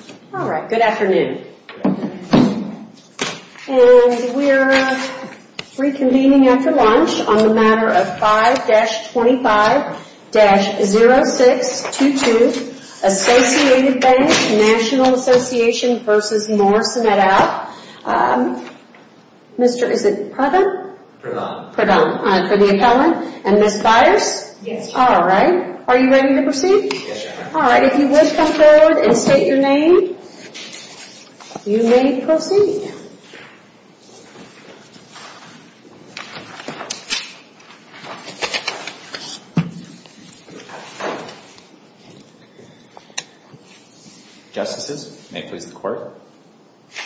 et al. Mr., is it Pradhan? Pradhan. For the appellant. And Ms. Byers? Yes. All right. Are you ready to proceed? Yes, ma'am. All right. If you would, come forward and state your name. You may proceed. Justices, may it please the Court,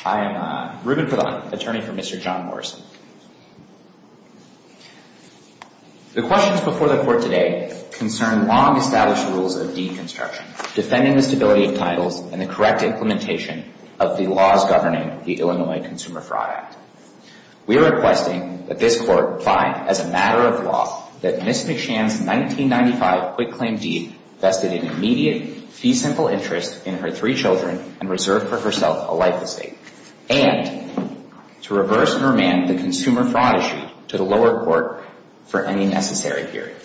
I am Ruben Pradhan, attorney for Mr. John Morrison. The questions before the Court today concern long-established rules of deed construction, defending the stability of titles, and the correct implementation of the laws governing the Illinois Consumer Fraud Act. We are requesting that this Court find, as a matter of law, that Ms. McShann's 1995 quick-claim deed vested an immediate, fee-simple interest in her three children and reserved for herself a life estate, and to reverse and remand the consumer fraud issue to the lower court for any necessary period.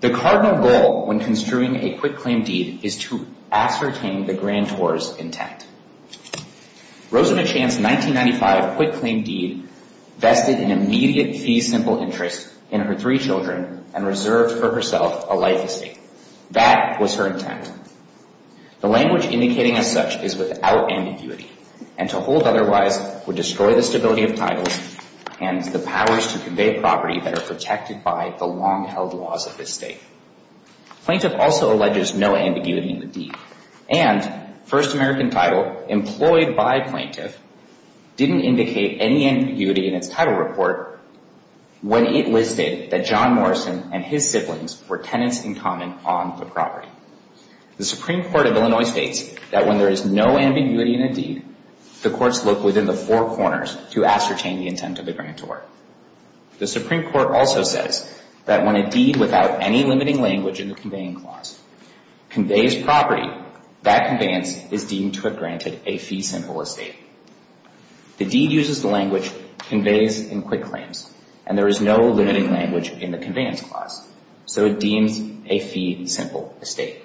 The cardinal goal when construing a quick-claim deed is to ascertain the grantor's intent. Rosamond Shann's 1995 quick-claim deed vested an immediate, fee-simple interest in her three children and reserved for herself a life estate. That was her intent. The language indicating as such is without ambiguity, and to hold otherwise would destroy the stability of titles and the powers to convey property that are protected by the long-held laws of this State. Plaintiff also alleges no ambiguity in the deed, and First American Title, employed by plaintiff, didn't indicate any ambiguity in its title report when it listed that John Morrison and his siblings were tenants in common on the property. The Supreme Court of Illinois states that when there is no ambiguity in a deed, the courts look within the four corners to ascertain the intent of the grantor. The Supreme Court also says that when a deed without any limiting language in the conveying clause conveys property, that conveyance is deemed to have granted a fee-simple estate. The deed uses the language conveys in quick-claims, and there is no limiting language in the conveyance clause, so it deems a fee-simple estate.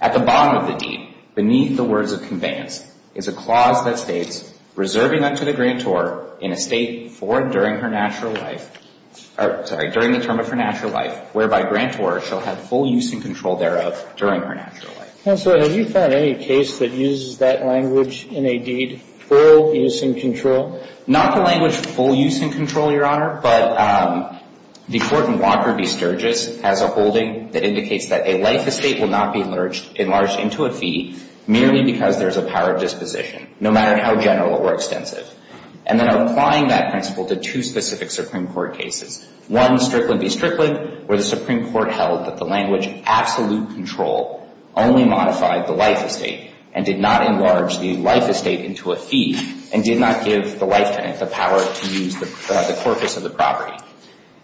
At the bottom of the deed, beneath the words of conveyance, is a clause that states, reserving that to the grantor in a State for and during her natural life, sorry, during the term of her natural life, whereby grantor shall have full use and control thereof during her natural life. Counsel, have you found any case that uses that language in a deed, full use and control? Not the language full use and control, Your Honor, but the court in Walker v. Sturgis has a holding that indicates that a life estate will not be enlarged into a fee merely because there is a power of disposition, no matter how general or extensive. And then applying that principle to two specific Supreme Court cases, one, Strickland v. Strickland, where the Supreme Court held that the language absolute control only modified the life estate and did not enlarge the life estate into a fee and did not give the life tenant the power to use the corpus of the property.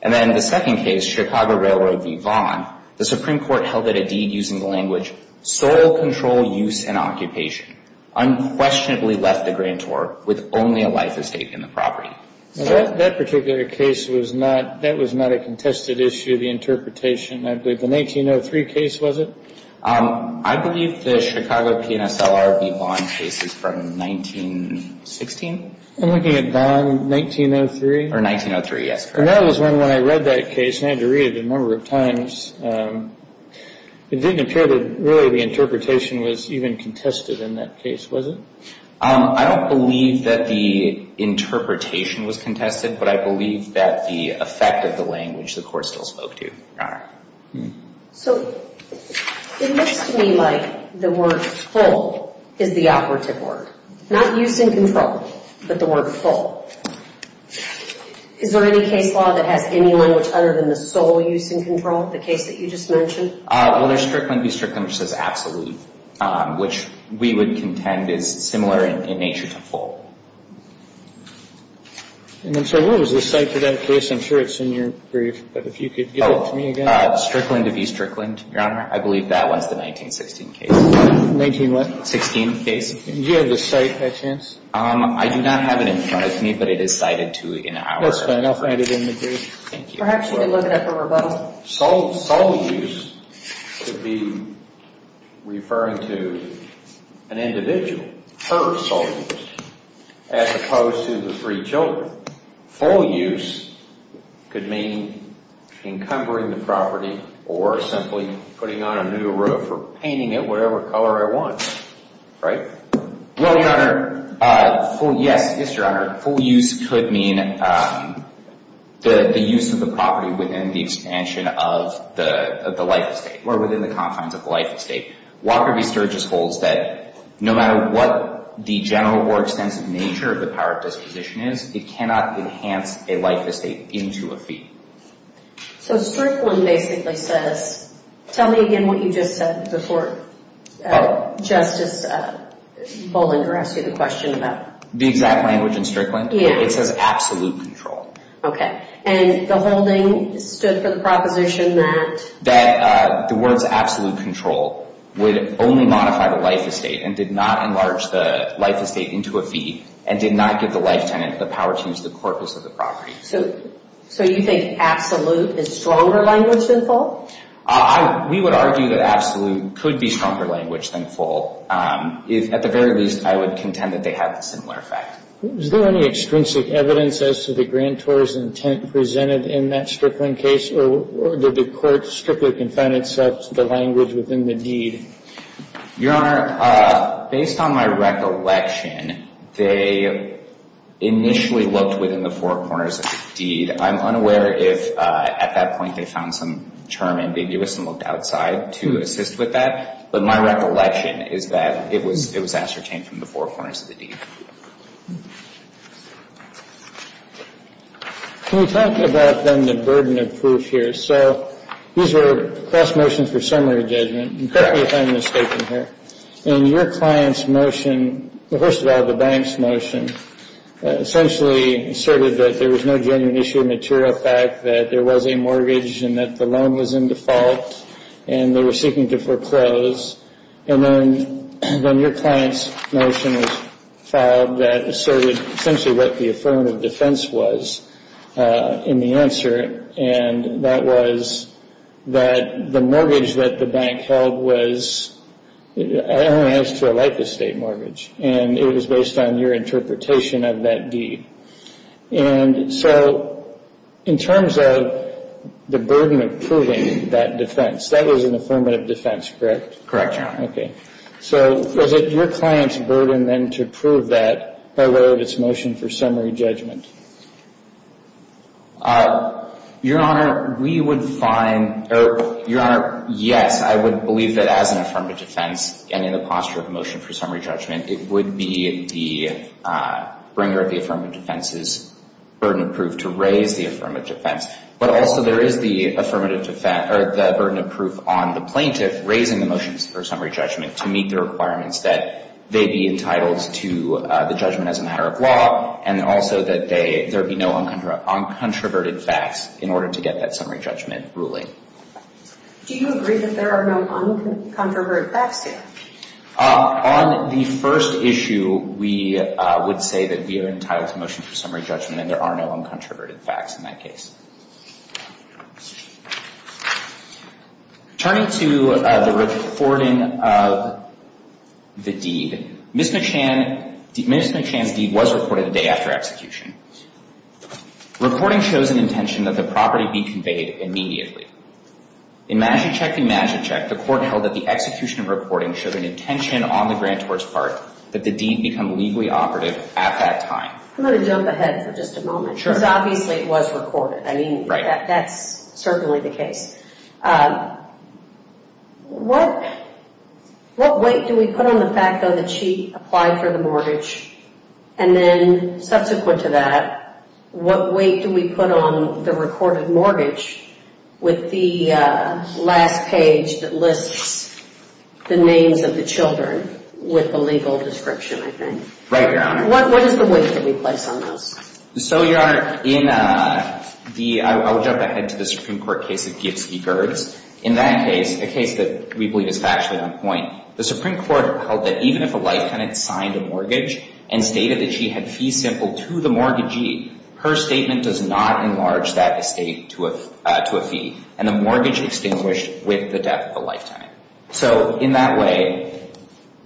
And then the second case, Chicago Railroad v. Vaughn, the Supreme Court held that a deed using the language sole control use and occupation unquestionably left the grantor with only a life estate in the property. That particular case was not, that was not a contested issue, the interpretation, I believe. The 1903 case, was it? I believe the Chicago PNSLR v. Vaughn case is from 1916. I'm looking at Vaughn, 1903. Or 1903, yes. And that was when, when I read that case and I had to read it a number of times, it didn't appear that really the interpretation was even contested in that case, was it? I don't believe that the interpretation was contested, but I believe that the effect of the language the court still spoke to. So it looks to me like the word full is the operative word. Not use and control, but the word full. Is there any case law that has any language other than the sole use and control, the case that you just mentioned? Well, there's Strickland v. Strickland which says absolute, which we would contend is similar in nature to full. And I'm sorry, what was the site for that case? I'm sure it's in your brief, but if you could give it to me again. Strickland v. Strickland, Your Honor. I believe that was the 1916 case. 19 what? 16 case. And do you have the site by chance? I do not have it in front of me, but it is cited to an hour. That's fine. I'll find it in the brief. Thank you. We're actually looking at the rebuttal. Sole use could be referring to an individual, her sole use, as opposed to the three children. Full use could mean encumbering the property or simply putting on a new roof or painting it whatever color I want, right? Well, Your Honor, yes, yes, Your Honor. Full use could mean the use of the property within the expansion of the life estate or within the confines of the life estate. Walker v. Sturgis holds that no matter what the general or extensive nature of the power of disposition is, it cannot enhance a life estate into a fee. So Strickland basically says, tell me again what you just said before Justice Bollinger asked you the question about? The exact language in Strickland? Yeah. It says absolute control. Okay. And the holding stood for the proposition that? That the words absolute control would only modify the life estate and did not enlarge the life estate into a fee and did not give the life tenant the power to use the corpus of the property. So you think absolute is stronger language than full? We would argue that absolute could be stronger language than full. At the very least, I would contend that they have a similar effect. Is there any extrinsic evidence as to the grantor's intent presented in that Strickland case or did the court strictly confine itself to the language within the deed? Your Honor, based on my recollection, they initially looked within the four corners of the deed. I'm unaware if at that point they found some term ambiguous and looked outside to assist with that. But my recollection is that it was ascertained from the four corners of the deed. Can we talk about then the burden of proof here? So these are cross motions for summary judgment. Correct me if I'm mistaken here. In your client's motion, first of all the bank's motion, essentially asserted that there was no genuine issue of material fact, that there was a mortgage and that the loan was in default and they were seeking to foreclose. And then your client's motion was filed that asserted essentially what the affirmative defense was in the answer. And that was that the mortgage that the bank held was, it only adds to a life estate mortgage. And it was based on your interpretation of that deed. And so in terms of the burden of proving that defense, that was an affirmative defense, correct? Correct, Your Honor. Okay. So was it your client's burden then to prove that by way of its motion for summary judgment? Your Honor, we would find, or Your Honor, yes, I would believe that as an affirmative defense and in the posture of motion for summary judgment, it would be the bringer of the affirmative defense's burden of proof to raise the affirmative defense. But also there is the burden of proof on the plaintiff raising the motions for summary judgment to meet the requirements that they be entitled to the judgment as a matter of law and also that there be no uncontroverted facts in order to get that summary judgment ruling. Do you agree that there are no uncontroverted facts here? On the first issue, we would say that we are entitled to motion for summary judgment and there are no uncontroverted facts in that case. Turning to the recording of the deed. Ms. McChan's deed was recorded the day after execution. Reporting shows an intention that the property be conveyed immediately. In Magichek v. Magichek, the court held that the execution of reporting showed an intention on the grantor's part that the deed become legally operative at that time. I'm going to jump ahead for just a moment. Sure. Because obviously it was recorded. I mean, that's certainly the case. What weight do we put on the fact that she applied for the mortgage and then subsequent to that, what weight do we put on the recorded mortgage with the last page that lists the names of the children with the legal description, I think? Right, Your Honor. What is the weight that we place on those? So, Your Honor, I will jump ahead to the Supreme Court case of Gibbs v. Gerdes. In that case, a case that we believe is factually on point, the Supreme Court held that even if a life tenant signed a mortgage and stated that she had fees simple to the mortgagee, her statement does not enlarge that estate to a fee and the mortgage extinguished with the death of the life tenant. So, in that way,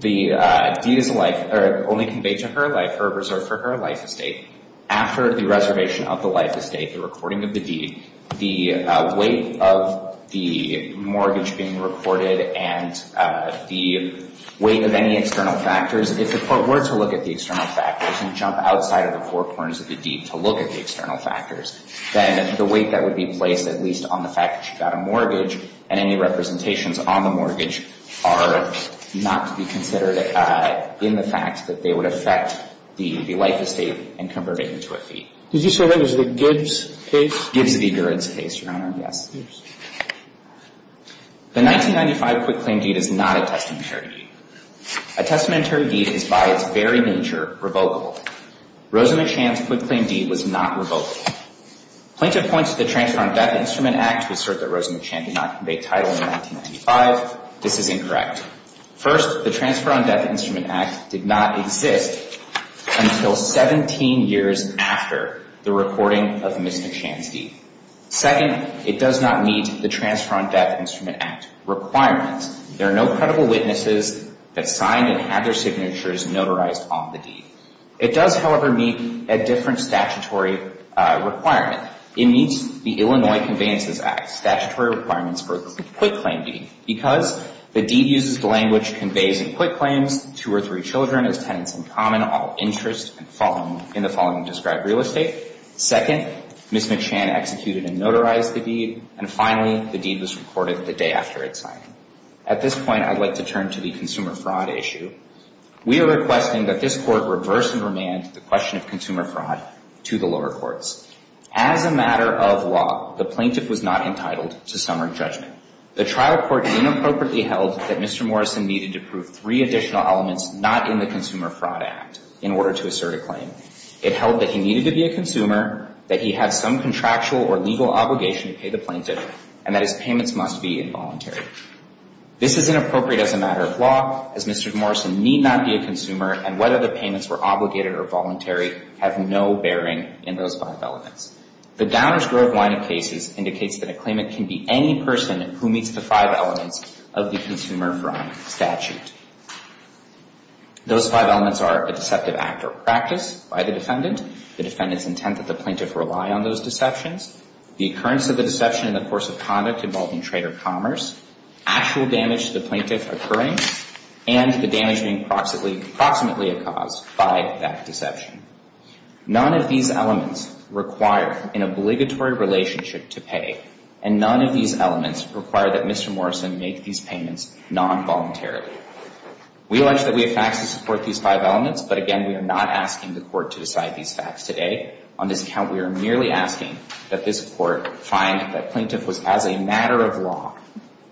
the deed is only conveyed to her life, reserved for her life estate. After the reservation of the life estate, the recording of the deed, the weight of the mortgage being recorded and the weight of any external factors, if the court were to look at the external factors and jump outside of the four corners of the deed to look at the external factors, then the weight that would be placed, at least on the fact that she got a mortgage and any representations on the mortgage are not to be considered in the fact that they would affect the life estate and convert it into a fee. Did you say that was the Gibbs case? Gibbs v. Gerdes case, Your Honor, yes. The 1995 quick claim deed is not a testamentary deed. A testamentary deed is by its very nature revocable. Rosamund Shand's quick claim deed was not revocable. Plaintiff points to the Transfer on Death Instrument Act to assert that Rosamund Shand did not convey title in 1995. This is incorrect. First, the Transfer on Death Instrument Act did not exist until 17 years after the recording of Ms. Shand's deed. Second, it does not meet the Transfer on Death Instrument Act requirements. There are no credible witnesses that signed and had their signatures notarized on the deed. It does, however, meet a different statutory requirement. It meets the Illinois Conveyances Act statutory requirements for a quick claim deed because the deed uses the language conveys in quick claims, two or three children as tenants in common all interest in the following described real estate. Second, Ms. Shand executed and notarized the deed. And finally, the deed was recorded the day after it signed. At this point, I'd like to turn to the consumer fraud issue. We are requesting that this Court reverse and remand the question of consumer fraud to the lower courts. As a matter of law, the plaintiff was not entitled to summary judgment. The trial court inappropriately held that Mr. Morrison needed to prove three additional elements not in the Consumer Fraud Act in order to assert a claim. It held that he needed to be a consumer, that he had some contractual or legal obligation to pay the plaintiff, and that his payments must be involuntary. This is inappropriate as a matter of law as Mr. Morrison need not be a consumer and whether the payments were obligated or voluntary have no bearing in those five elements. The Downers-Grove line of cases indicates that a claimant can be any person who meets the five elements of the Consumer Fraud Statute. Those five elements are a deceptive act or practice by the defendant, the defendant's intent that the plaintiff rely on those deceptions, the occurrence of the deception in the course of conduct involving trade or commerce, actual damage to the plaintiff occurring, and the damage being proximately a cause by that deception. None of these elements require an obligatory relationship to pay and none of these elements require that Mr. Morrison make these payments non-voluntarily. We allege that we have facts to support these five elements, but again we are not asking the court to decide these facts today. On this account, we are merely asking that this court find that plaintiff was as a matter of law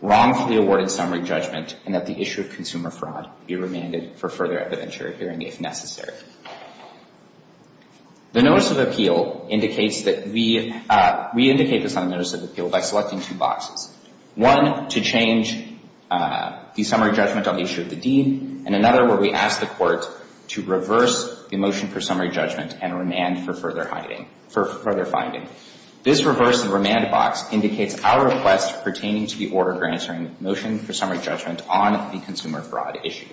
wrongfully awarded summary judgment and that the issue of consumer fraud be remanded for further evidentiary hearing if necessary. The Notice of Appeal indicates that we indicate this on Notice of Appeal by selecting two boxes. One to change the summary judgment on the issue of the deed and another where we ask the court to reverse the motion for summary judgment and remand for further finding. This reverse and remand box indicates our request pertaining to the order granting motion for summary judgment on the consumer fraud issue.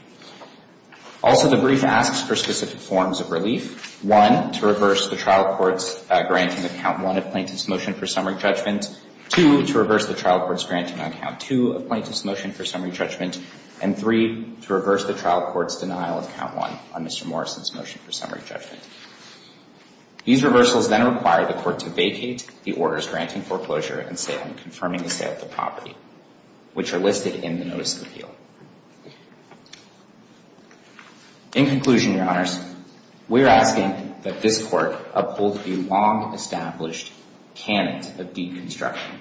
Also, the brief asks for specific forms of relief. One, to reverse the trial court's granting of count one of plaintiff's motion for summary judgment. Two, to reverse the trial court's granting on count two of plaintiff's motion for summary judgment. And three, to reverse the trial court's denial of count one on Mr. Morrison's motion for summary judgment. These reversals then require the court to vacate the orders granting foreclosure and confirming the sale of the property, which are listed in the Notice of Appeal. In conclusion, Your Honors, we are asking that this court uphold the long-established canon of deed construction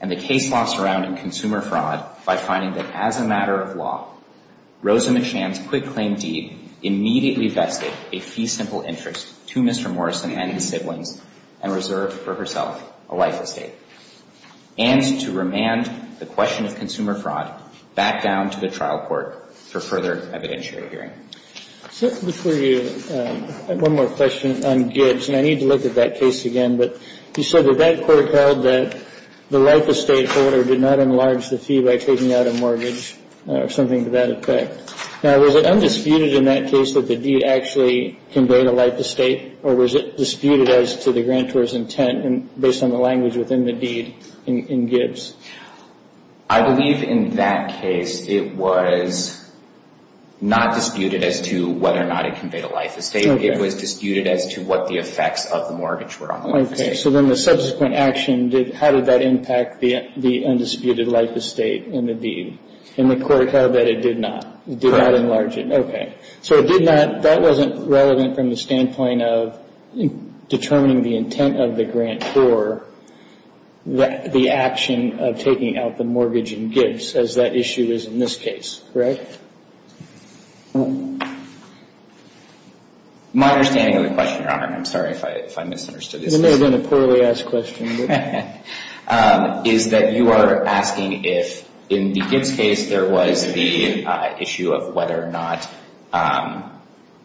and the case law surrounding consumer fraud by finding that as a matter of law, Rosa McShann's quick claim deed immediately vested a fee-simple interest to Mr. Morrison and his siblings and reserved for herself a life estate. And to remand the question of consumer fraud back down to the trial court for further evidentiary hearing. Before you, I have one more question on Gibbs, and I need to look at that case again. But you said that that court held that the life estate order did not enlarge the fee by taking out a mortgage or something to that effect. Now, was it undisputed in that case that the deed actually conveyed a life estate? Or was it disputed as to the grantor's intent based on the language within the deed in Gibbs? I believe in that case it was not disputed as to whether or not it conveyed a life estate. It was disputed as to what the effects of the mortgage were on the life estate. Okay. So then the subsequent action, how did that impact the undisputed life estate in the deed? And the court held that it did not. It did not enlarge it. So it did not, that wasn't relevant from the standpoint of determining the intent of the grantor the action of taking out the mortgage in Gibbs as that issue is in this case. Correct? My understanding of the question, Your Honor, and I'm sorry if I misunderstood this. It may have been a poorly asked question. Is that you are asking if in the Gibbs case there was the issue of whether or not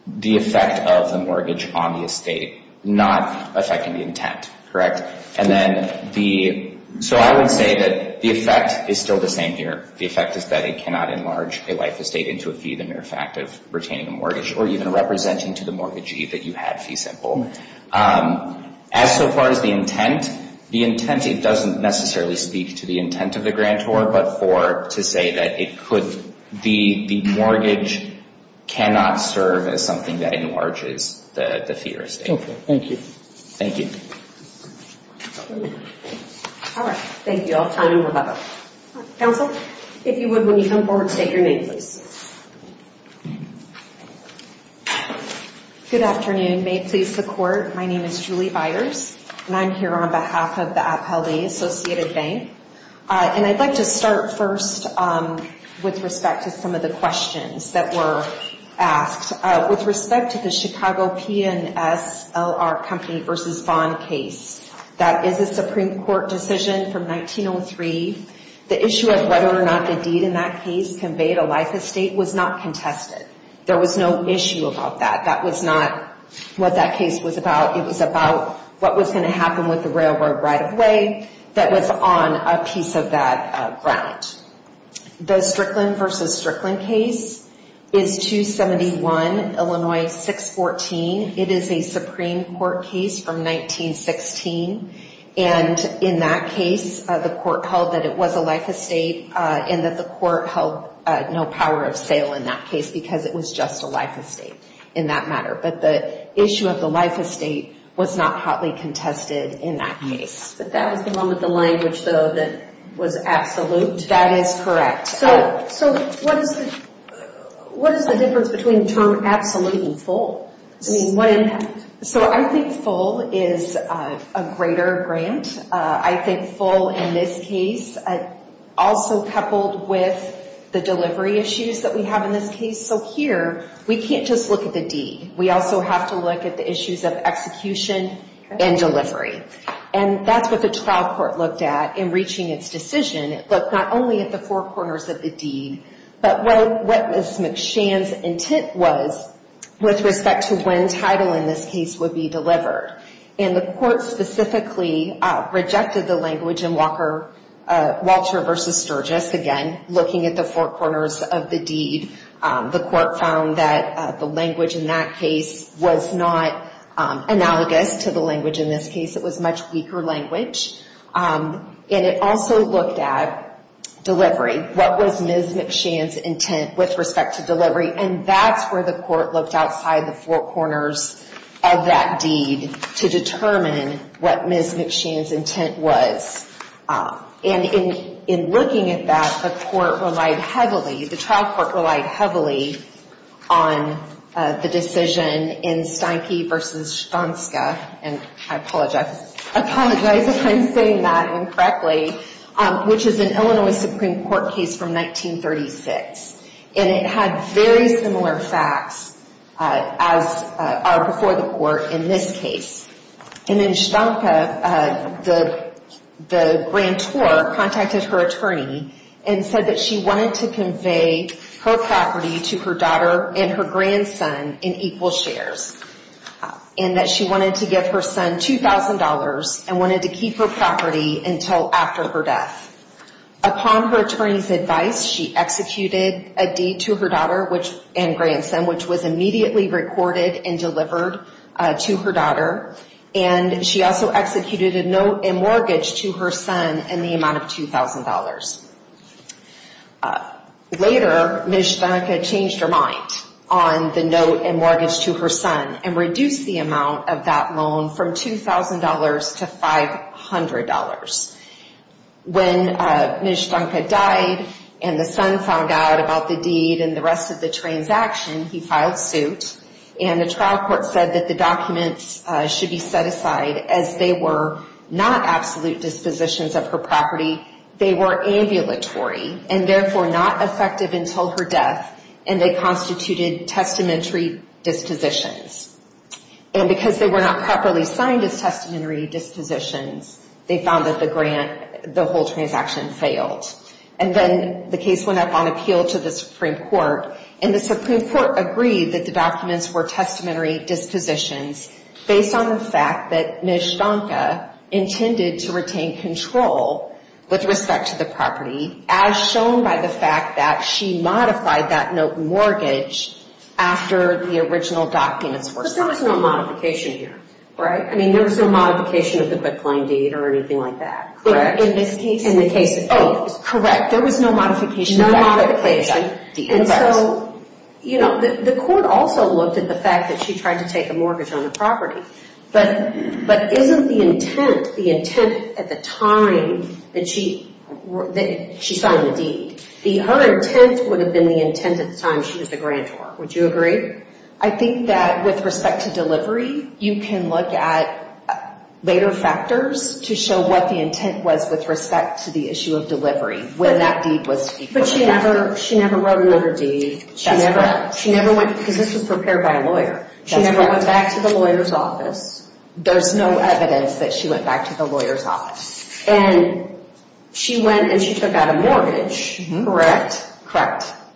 the effect of the mortgage on the estate not affecting the intent. So I would say that the effect is still the same here. The effect is that it cannot enlarge a life estate into a fee, the mere fact of retaining a mortgage or even representing to the mortgagee that you had fee simple. As so far as the intent, the intent it doesn't necessarily speak to the intent of the grantor but for to say that it could be the mortgage cannot serve as something that enlarges the fee or estate. Okay. Thank you. Thank you. All right. Thank you. I'll turn it over to counsel. If you would, when you come forward, state your name, please. Good afternoon. May it please the Court. My name is Julie Byers and I'm here on behalf of the Appellee Associated Bank. And I'd like to start first with respect to some of the questions that were asked. With respect to the Chicago P&S LR Company v. Vaughn case, that is a Supreme Court decision from 1903. The issue of whether or not the deed in that case conveyed a life estate was not contested. There was no issue about that. That was not what that case was about. It was about what was going to happen with the railroad right-of-way that was on a piece of that grant. The Strickland v. Strickland case is 271 Illinois 614. It is a Supreme Court case from 1916. And in that case, the Court held that it was a life estate and that the Court held no power of sale in that case because it was just a life estate in that matter. But the issue of the life estate was not hotly contested in that case. But that was the one with the language, though, that was absolute. That is correct. So what is the difference between the term absolute and full? I mean, what impact? So I think full is a greater grant. I think full in this case also coupled with the delivery issues that we have in this case. So here, we can't just look at the deed. We also have to look at the issues of execution and delivery. And that's what the trial court looked at in reaching its decision. It looked not only at the four corners of the deed, but what Ms. McShan's intent was with respect to when title in this case would be delivered. And the Court specifically rejected the language in Walter v. Sturgis. Again, looking at the four corners of the deed, the Court found that the language in that case was not analogous to the language in this case. It was much weaker language. And it also looked at delivery. What was Ms. McShan's intent with respect to delivery? And that's where the Court looked outside the four corners of that deed to determine what Ms. McShan's intent was. And in looking at that, the Court relied heavily, the trial court relied heavily on the decision in Steinke v. Stonska, and I apologize if I'm saying that incorrectly, which is an Illinois Supreme Court case from 1936. And it had very similar facts as are before the Court in this case. And in Steinke, the grantor contacted her attorney and said that she wanted to convey her property to her daughter and her grandson in equal shares. And that she wanted to give her son $2,000 and wanted to keep her property until after her death. Upon her attorney's advice, she executed a deed to her daughter and grandson, which was immediately recorded and delivered to her daughter. And she also executed a note and mortgage to her son in the amount of $2,000. Later, Ms. Steinke changed her mind on the note and mortgage to her son and reduced the amount of that loan from $2,000 to $500. When Ms. Steinke died and the son found out about the deed and the rest of the transaction, he filed suit. And the trial court said that the documents should be set aside as they were not absolute dispositions of her property. They were ambulatory and therefore not effective until her death. And they constituted testamentary dispositions. And because they were not properly signed as testamentary dispositions, they found that the grant, the whole transaction failed. And then the case went up on appeal to the Supreme Court. And the Supreme Court agreed that the documents were testamentary dispositions based on the fact that Ms. Steinke intended to retain control with respect to the property as shown by the fact that she modified that note and mortgage after the original documents were signed. But there was no modification here, right? I mean, there was no modification of the quitclaim deed or anything like that, correct? In this case? Oh, correct. There was no modification. No modification. And so, you know, the court also looked at the fact that she tried to take a mortgage on the property. But isn't the intent, the intent at the time that she signed the deed, her intent would have been the intent at the time she was the grantor. Would you agree? I think that with respect to delivery, you can look at later factors to show what the intent was with respect to the issue of delivery when that deed was equaled. But she never wrote another deed. That's correct. Because this was prepared by a lawyer. She never went back to the lawyer's office. There's no evidence that she went back to the lawyer's office. And she went and she took out a mortgage, correct?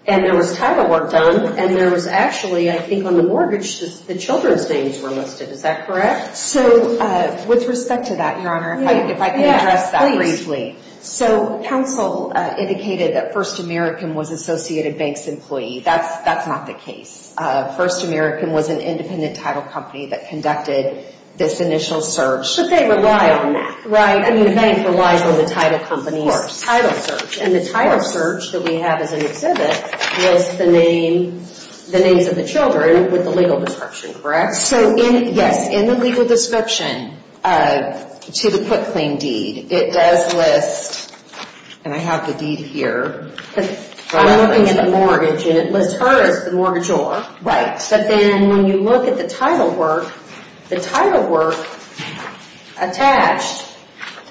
And there was title work done. And there was actually, I think on the mortgage, the children's names were listed. Is that correct? So, with respect to that, Your Honor, if I can address that briefly. So, counsel indicated that First American was Associated Bank's employee. That's not the case. First American was an independent title company that conducted this initial search. But they rely on that. Right. I mean, the bank relies on the title company's title search. And the title search that we have as an exhibit was the names of the children with the legal description, correct? So, yes, in the legal description to the put claim deed, it does list, and I have the deed here. I'm looking at the mortgage. And it lists her as the mortgagor. Right. But then when you look at the title work, the title work attached.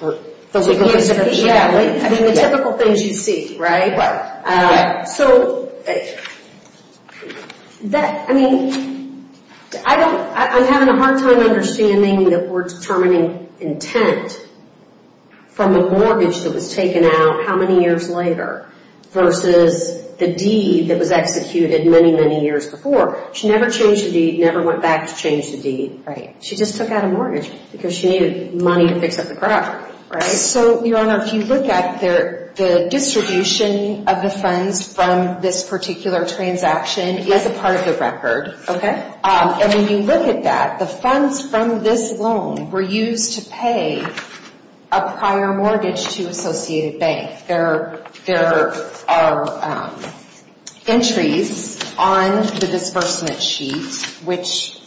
The legal description? I mean, the typical things you see, right? Right. So, I mean, I don't, I'm having a hard time understanding that we're determining intent from a mortgage that was taken out how many years later versus the deed that was executed many, many years before. She never changed the deed, never went back to change the deed. Right. She just took out a mortgage because she needed money to fix up the property. Right. So, Your Honor, if you look at the distribution of the funds from this particular transaction is a part of the record. Okay. And when you look at that, the funds from this loan were used to pay a prior mortgage to Associated Bank. There are entries on the disbursement sheet which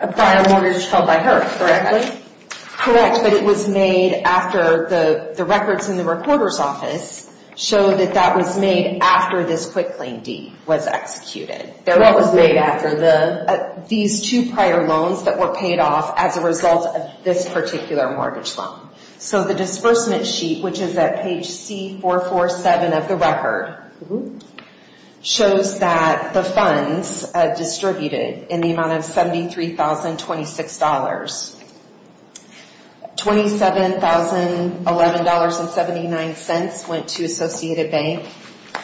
A prior mortgage held by her, correct? Correct. But it was made after the records in the recorder's office show that that was made after this quick claim deed was executed. What was made after the? These two prior loans that were paid off as a result of this particular mortgage loan. So, the disbursement sheet, which is at page C447 of the record, shows that the funds distributed in the amount of $73,026. $27,011.79 went to Associated Bank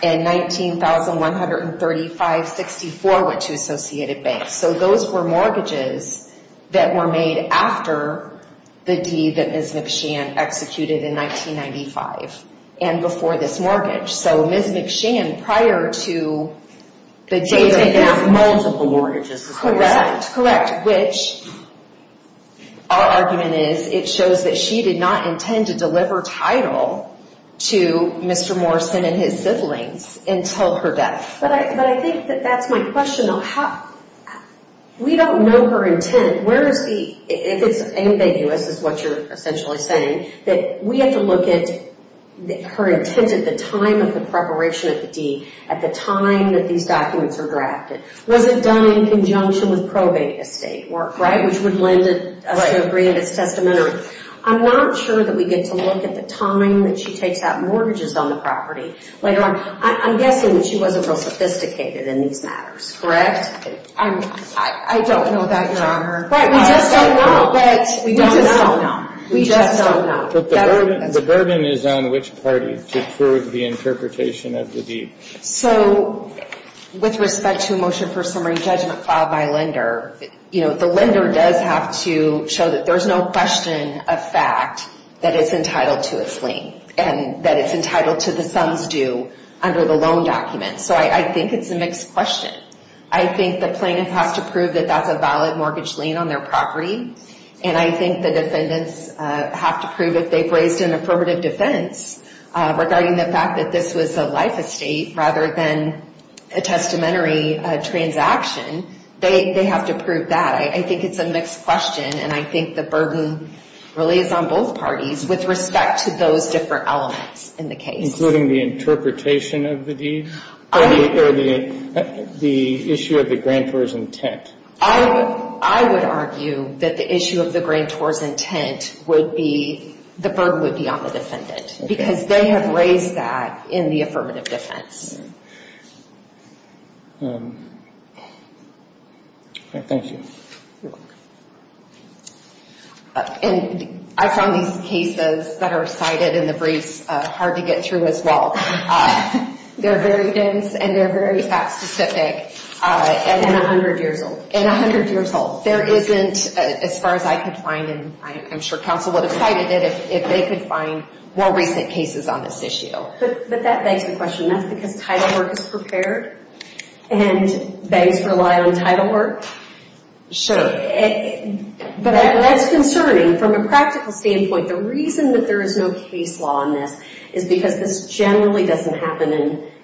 and $19,135.64 went to Associated Bank. So, those were mortgages that were made after the deed that Ms. McShann executed in 1995 and before this mortgage. So, Ms. McShann, prior to the deed of that mortgage, correct? Which, our argument is, it shows that she did not intend to deliver title to Mr. Morrison and his siblings until her death. But I think that that's my question, though. We don't know her intent. If it's ambiguous, is what you're essentially saying, that we have to look at her intent at the time of the preparation of the deed, at the time that these documents were drafted. Was it done in conjunction with probate estate work, right? Which would lend us to agree that it's testamentary. I'm not sure that we get to look at the time that she takes out mortgages on the property later on. I'm guessing that she wasn't real sophisticated in these matters, correct? I don't know that, Your Honor. We just don't know. We just don't know. The burden is on which party to prove the interpretation of the deed. So, with respect to a motion for summary judgment filed by a lender, you know, the lender does have to show that there's no question of fact that it's entitled to a sling, and that it's entitled to the sum's due under the loan document. So, I think it's a mixed question. I think the plaintiff has to prove that that's a valid mortgage lien on their property. And I think the defendants have to prove, if they've raised an affirmative defense regarding the fact that this was a life estate rather than a testamentary transaction, they have to prove that. I think it's a mixed question, and I think the burden really is on both parties with respect to those different elements in the case. Including the interpretation of the deed? Or the issue of the grantor's intent? I would argue that the issue of the grantor's intent would be, the burden would be on the defendant. Because they have raised that in the affirmative defense. Thank you. You're welcome. I found these cases that are cited in the briefs hard to get through as well. They're very dense, and they're very fact specific. And a hundred years old. And a hundred years old. There isn't, as far as I could find, and I'm sure counsel would have cited it, if they could find more recent cases on this issue. But that begs the question. That's because title work is prepared? And banks rely on title work? Sure. But that's concerning. From a practical standpoint, the reason that there is no case law on this is because this generally doesn't happen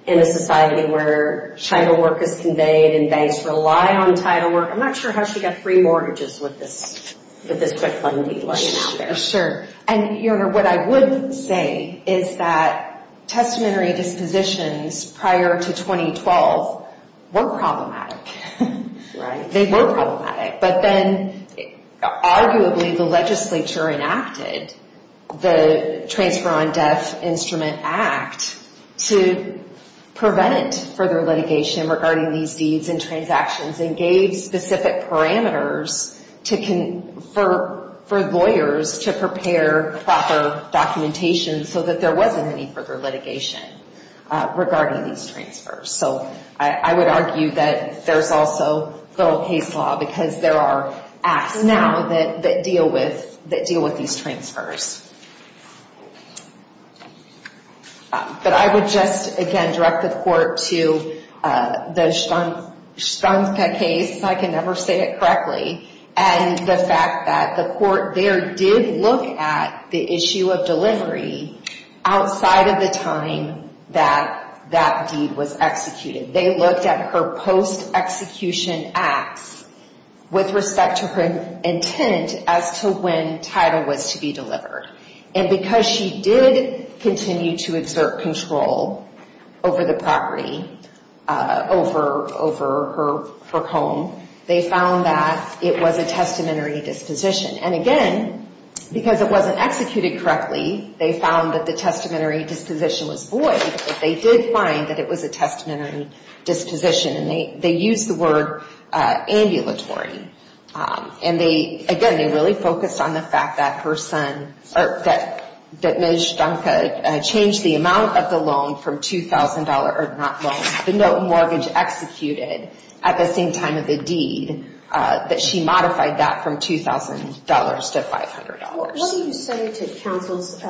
in a society where title work is conveyed and banks rely on title work. I'm not sure how she got free mortgages with this quick fund deal. Sure. And what I would say is that testamentary dispositions prior to 2012 were problematic. They were problematic. But then, arguably, the legislature enacted the Transfer on Death Instrument Act to prevent further litigation regarding these deeds and transactions and gave specific parameters for lawyers to prepare proper documentation so that there wasn't any further litigation regarding these transfers. So, I would argue that there's also federal case law because there are acts now that deal with these transfers. But I would just, again, direct the Court to the Schwanzpeck case, if I can ever say it correctly, and the fact that the Court there did look at the issue of delivery outside of the time that that deed was executed. They looked at her post-execution acts with respect to her intent as to when title was to be delivered. And because she did continue to exert control over the property, over her home, they found that it was a testamentary disposition. And again, because it wasn't executed correctly, they found that the testamentary disposition was void, but they did find that it was a testamentary disposition. And they used the word ambulatory. And they, again, they really focused on the fact that her son, or that Ms. Stanka changed the amount of the loan from $2,000, or not loan, the mortgage executed at the same time of the deed, that she modified that from $2,000 to $500. What do you say to counsel's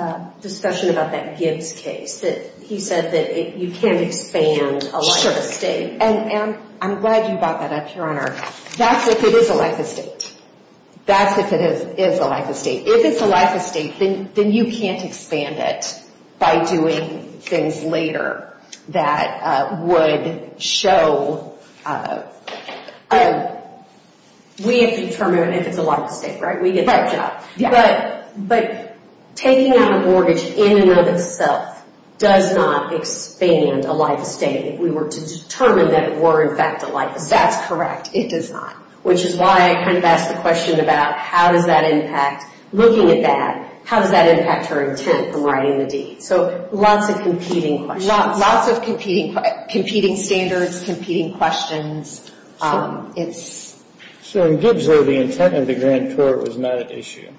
discussion about that Gibbs case? He said that you can't expand a life estate. And I'm glad you brought that up, Your Honor. That's if it is a life estate. That's if it is a life estate. If it's a life estate, then you can't expand it by doing things later that would show We have to determine if it's a life estate, right? We get that job. But taking out a mortgage in and of itself does not expand a life estate if we were to determine that it were, in fact, a life estate. That's correct. It does not. Which is why I kind of asked the question about how does that impact, looking at that, how does that impact her intent from writing the deed? So, lots of competing questions. Lots of competing standards, competing questions. Um, it's So, in Gibbs, though, the intent of the grantor was not at issue.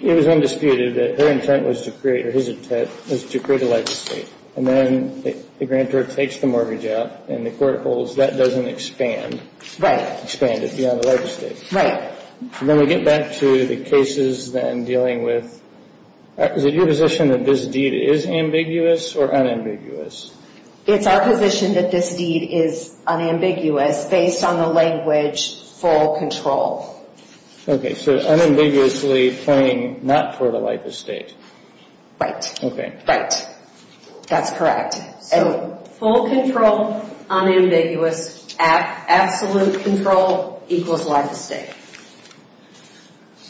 It was undisputed that her intent was to create, or his intent, was to create a life estate. And then the grantor takes the mortgage out and the court holds that doesn't expand Right. Expand it beyond the life estate. Right. And then we get back to the cases then dealing with is it your position that this deed is ambiguous or unambiguous? It's our position that this deed is unambiguous based on the language full control. Okay, so unambiguously claiming not for the life estate. Right. Okay. Right. That's correct. Full control, unambiguous absolute control equals life estate.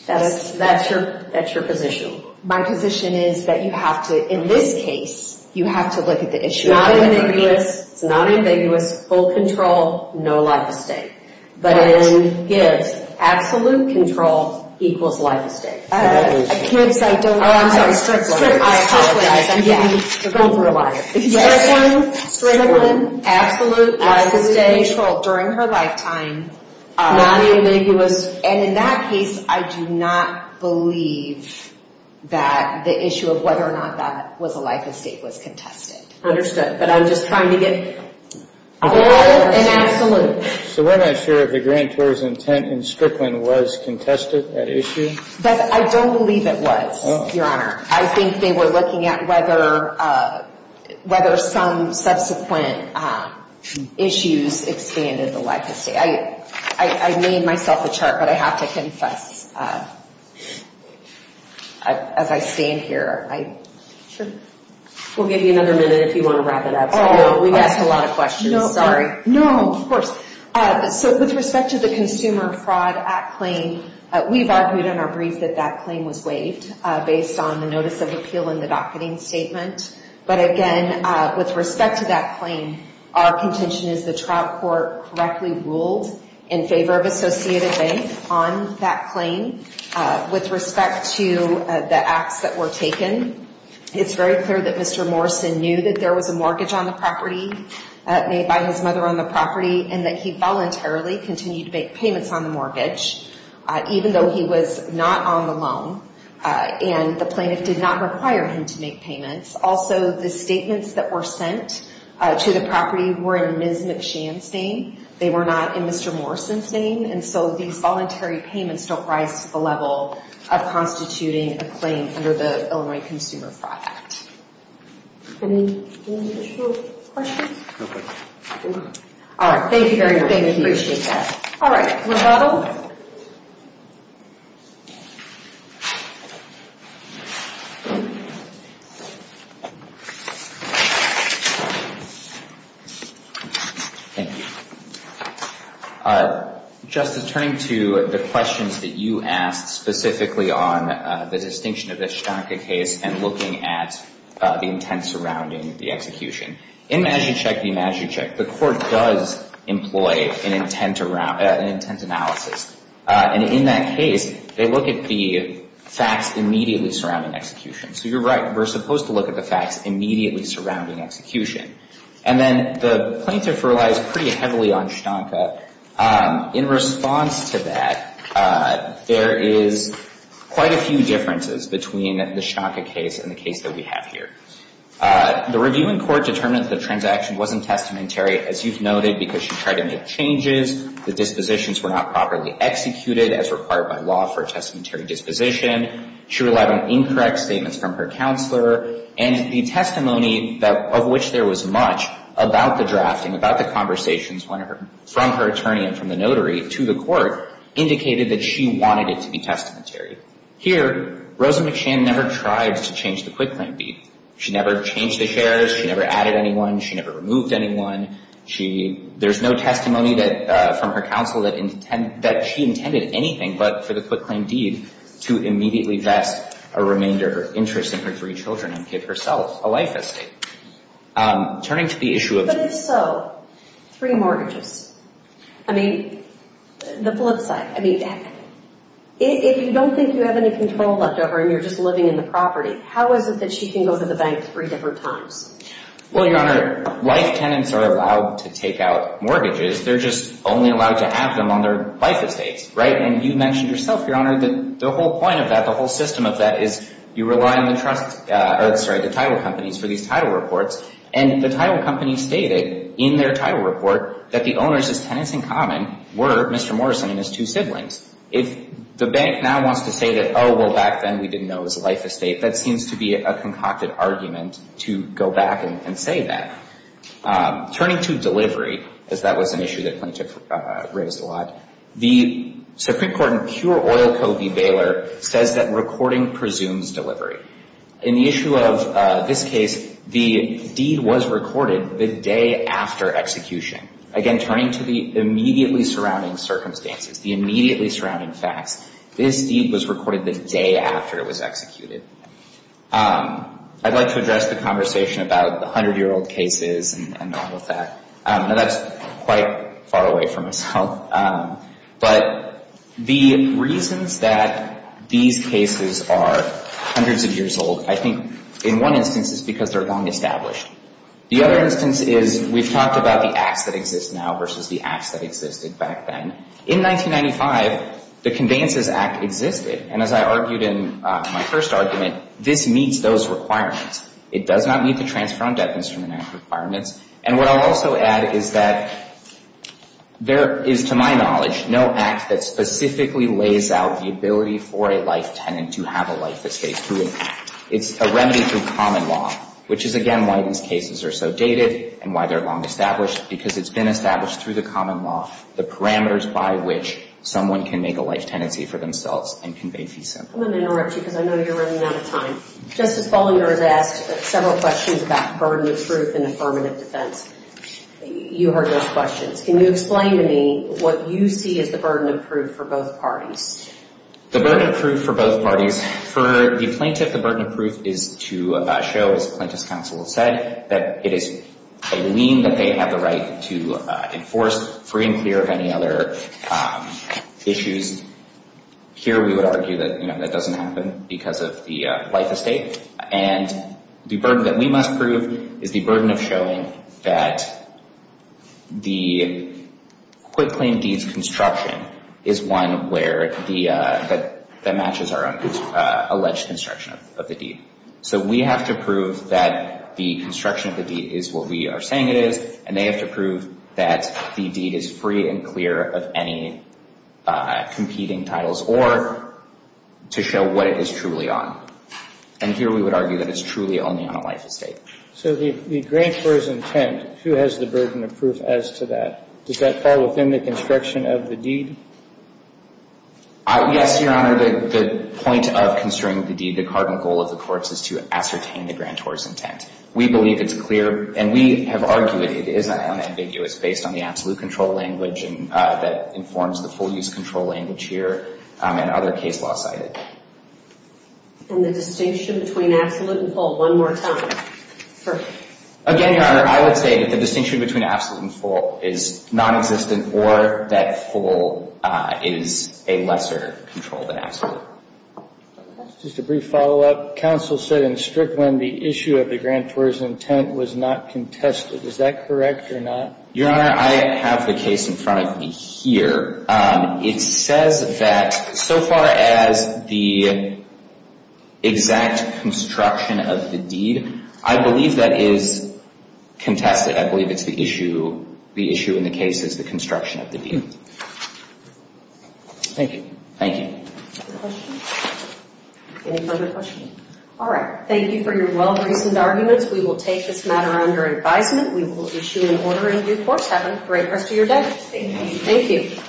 That's your position. My position is that you have to in this case, you have to look at the issue. It's not ambiguous. It's not ambiguous. Full control. No life estate. But in Gibbs, absolute control equals life estate. Uh, Gibbs, I don't know. Oh, I'm sorry. Strickland. I apologize. I didn't mean to go for a liar. Yes. Strickland, absolute life estate. Absolute control during her lifetime. Not ambiguous. And in that case, I do not believe that the issue of whether or not that was a life estate was contested. Understood. But I'm just trying to get full and absolute. So we're not sure if the grantor's intent in Strickland was contested at issue? But I don't believe it was, Your Honor. I think they were looking at whether whether some subsequent issues expanded the life estate. I made myself a chart, but I have to confess as I stand here. Sure. We'll give you another minute if you want to wrap it up. Oh, no. We've asked a lot of questions. Sorry. No, of course. So with respect to the Consumer Fraud Act claim, we've argued in our brief that that claim was waived based on the notice of appeal in the docketing statement. But again, with respect to that claim, our contention is the trial court correctly ruled in favor of Associated Bank on that claim. With respect to the acts that were taken, it's very clear that Mr. Morrison knew that there was a mortgage on the property made by his mother on the property, and that he voluntarily continued to make payments on the mortgage even though he was not on the loan. And the plaintiff did not require him to make payments. Also, the statements that were sent to the property were in Ms. McShan's name. They were not in Mr. Morrison's name. And so these voluntary payments don't rise to the level of constituting a claim under the Illinois Consumer Fraud Act. Any additional questions? No questions. All right. Thank you very much. Appreciate that. All right. Rebuttal? Thank you. Justice, turning to the questions that you asked specifically on the distinction of the Shtanka case and looking at the intent surrounding the execution. In Magichek v. Magichek, the Court does employ an intent analysis and in that case, they look at the facts immediately surrounding execution. So you're right. We're supposed to look at the facts immediately surrounding execution. And then the plaintiff relies pretty heavily on Shtanka. In response to that, there is quite a few differences between the Shtanka case and the case that we have here. The reviewing court determined that the transaction wasn't testamentary as you've noted because she tried to make changes, the dispositions were not properly executed as required by law for a testamentary disposition. She relied on incorrect statements from her counselor and the testimony of which there was much about the drafting, about the conversations from her attorney and from the notary to the Court indicated that she wanted it to be testamentary. Here, Rosa McShann never tried to change the quick claim deed. She never changed the shares. She never added anyone. She never removed anyone. There's no testimony from her counsel that she intended anything but for the quick claim deed to immediately vest a remainder interest in her three children and give herself a life estate. Turning to the issue of... But if so, three mortgages, I mean the flip side, I mean if you don't think you have any control left over and you're just living in the property, how is it that she can go to the bank three different times? Well, Your Honor, life tenants are allowed to take out mortgages. They're just only allowed to have them on their life estates, right? And you mentioned yourself, Your Honor, that the whole point of that, the whole system of that is you rely on the title companies for these title reports, and the title companies stated in their title report that the owners' tenants in common were Mr. Morrison and his two siblings. If the bank now wants to say that, oh, well, back then we didn't know it was a life estate, that seems to be a concocted argument to go back and say that. Turning to delivery, as that was an issue that plaintiff raised a lot, the Supreme Court in pure oil code v. Baylor says that recording presumes delivery. In the issue of this case, the deed was recorded the day after execution. Again, turning to the immediately surrounding circumstances, the immediately surrounding facts, this deed was recorded the day after it was executed. I'd like to address the conversation about the 100-year-old cases and all of that. Now, that's quite far away from myself, but the reasons that these cases are hundreds of years old, I think in one instance it's because they're long established. The other instance is we've talked about the acts that exist now versus the acts that existed back then. In 1995, the Conveyances Act existed, and as I said in my first argument, this meets those requirements. It does not meet the Transfer on Debt Instrument Act requirements, and what I'll also add is that there is, to my knowledge, no act that specifically lays out the ability for a life tenant to have a life escape through an act. It's a remedy through common law, which is, again, why these cases are so dated and why they're long established, because it's been established through the common law the parameters by which someone can make a life tenancy for themselves and convey FISA. I'm going to interrupt you because I know you're running out of time. Justice Ballinger has asked several questions about burden of proof and affirmative defense. You heard those questions. Can you explain to me what you see as the burden of proof for both parties? The burden of proof for both parties, for the plaintiff, the burden of proof is to show, as Plaintiff's Counsel has said, that it is a lien that they have the right to enforce, free and clear of any other issues. Here we would argue that that doesn't happen because of the life estate and the burden that we must prove is the burden of showing that the quitclaim deed's construction is one where that matches our alleged construction of the deed. So we have to prove that the construction of the deed is what we are saying it is, and they have to prove that the deed is free and clear of any competing titles or to show what it is truly on. And here we would argue that it's truly only on a life estate. So the grantor's intent, who has the burden of proof as to that? Does that fall within the construction of the Yes, Your Honor, the point of construing the deed, the cardinal goal of the court is to ascertain the grantor's intent. We believe it's clear, and we have argued it is unambiguous based on the absolute control language that informs the full use control language here and other case law cited. And the distinction between absolute and full one more time. Again, Your Honor, I would say that the distinction between absolute and full is nonexistent or that full is a lesser control than absolute. Just a brief follow-up. Counsel said in Strickland the issue of the grantor's intent was not contested. Is that correct or not? Your Honor, I have the case in front of me here. It says that so far as the exact construction of the deed I believe that is contested. I believe it's the issue the issue in the case is the construction of the deed. Thank you. Any further questions? All right. Thank you for your well-reasoned arguments. We will take this matter under advisement. We will issue an order in due course. Have a great rest of your day. Thank you.